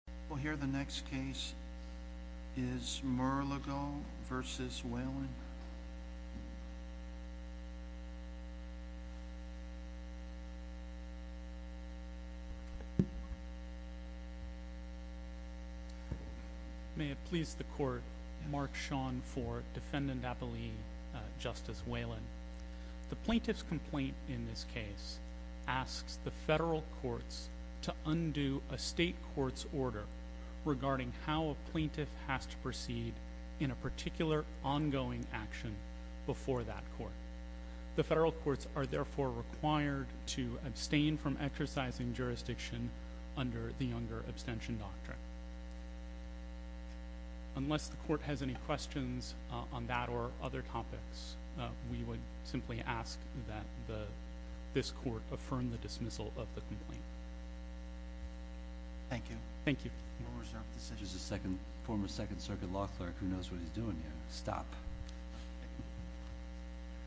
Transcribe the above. We'll hear the next case is Mirligil v. Whelan May it please the court, Mark Sean for Defendant Appellee Justice Whelan The plaintiff's complaint in this case asks the federal courts to undo a state court's order regarding how a plaintiff has to proceed in a particular ongoing action before that court. The federal courts are therefore required to abstain from exercising jurisdiction under the younger abstention doctrine. Unless the simply ask that this court affirm the dismissal of the complaint. Thank you. Thank you.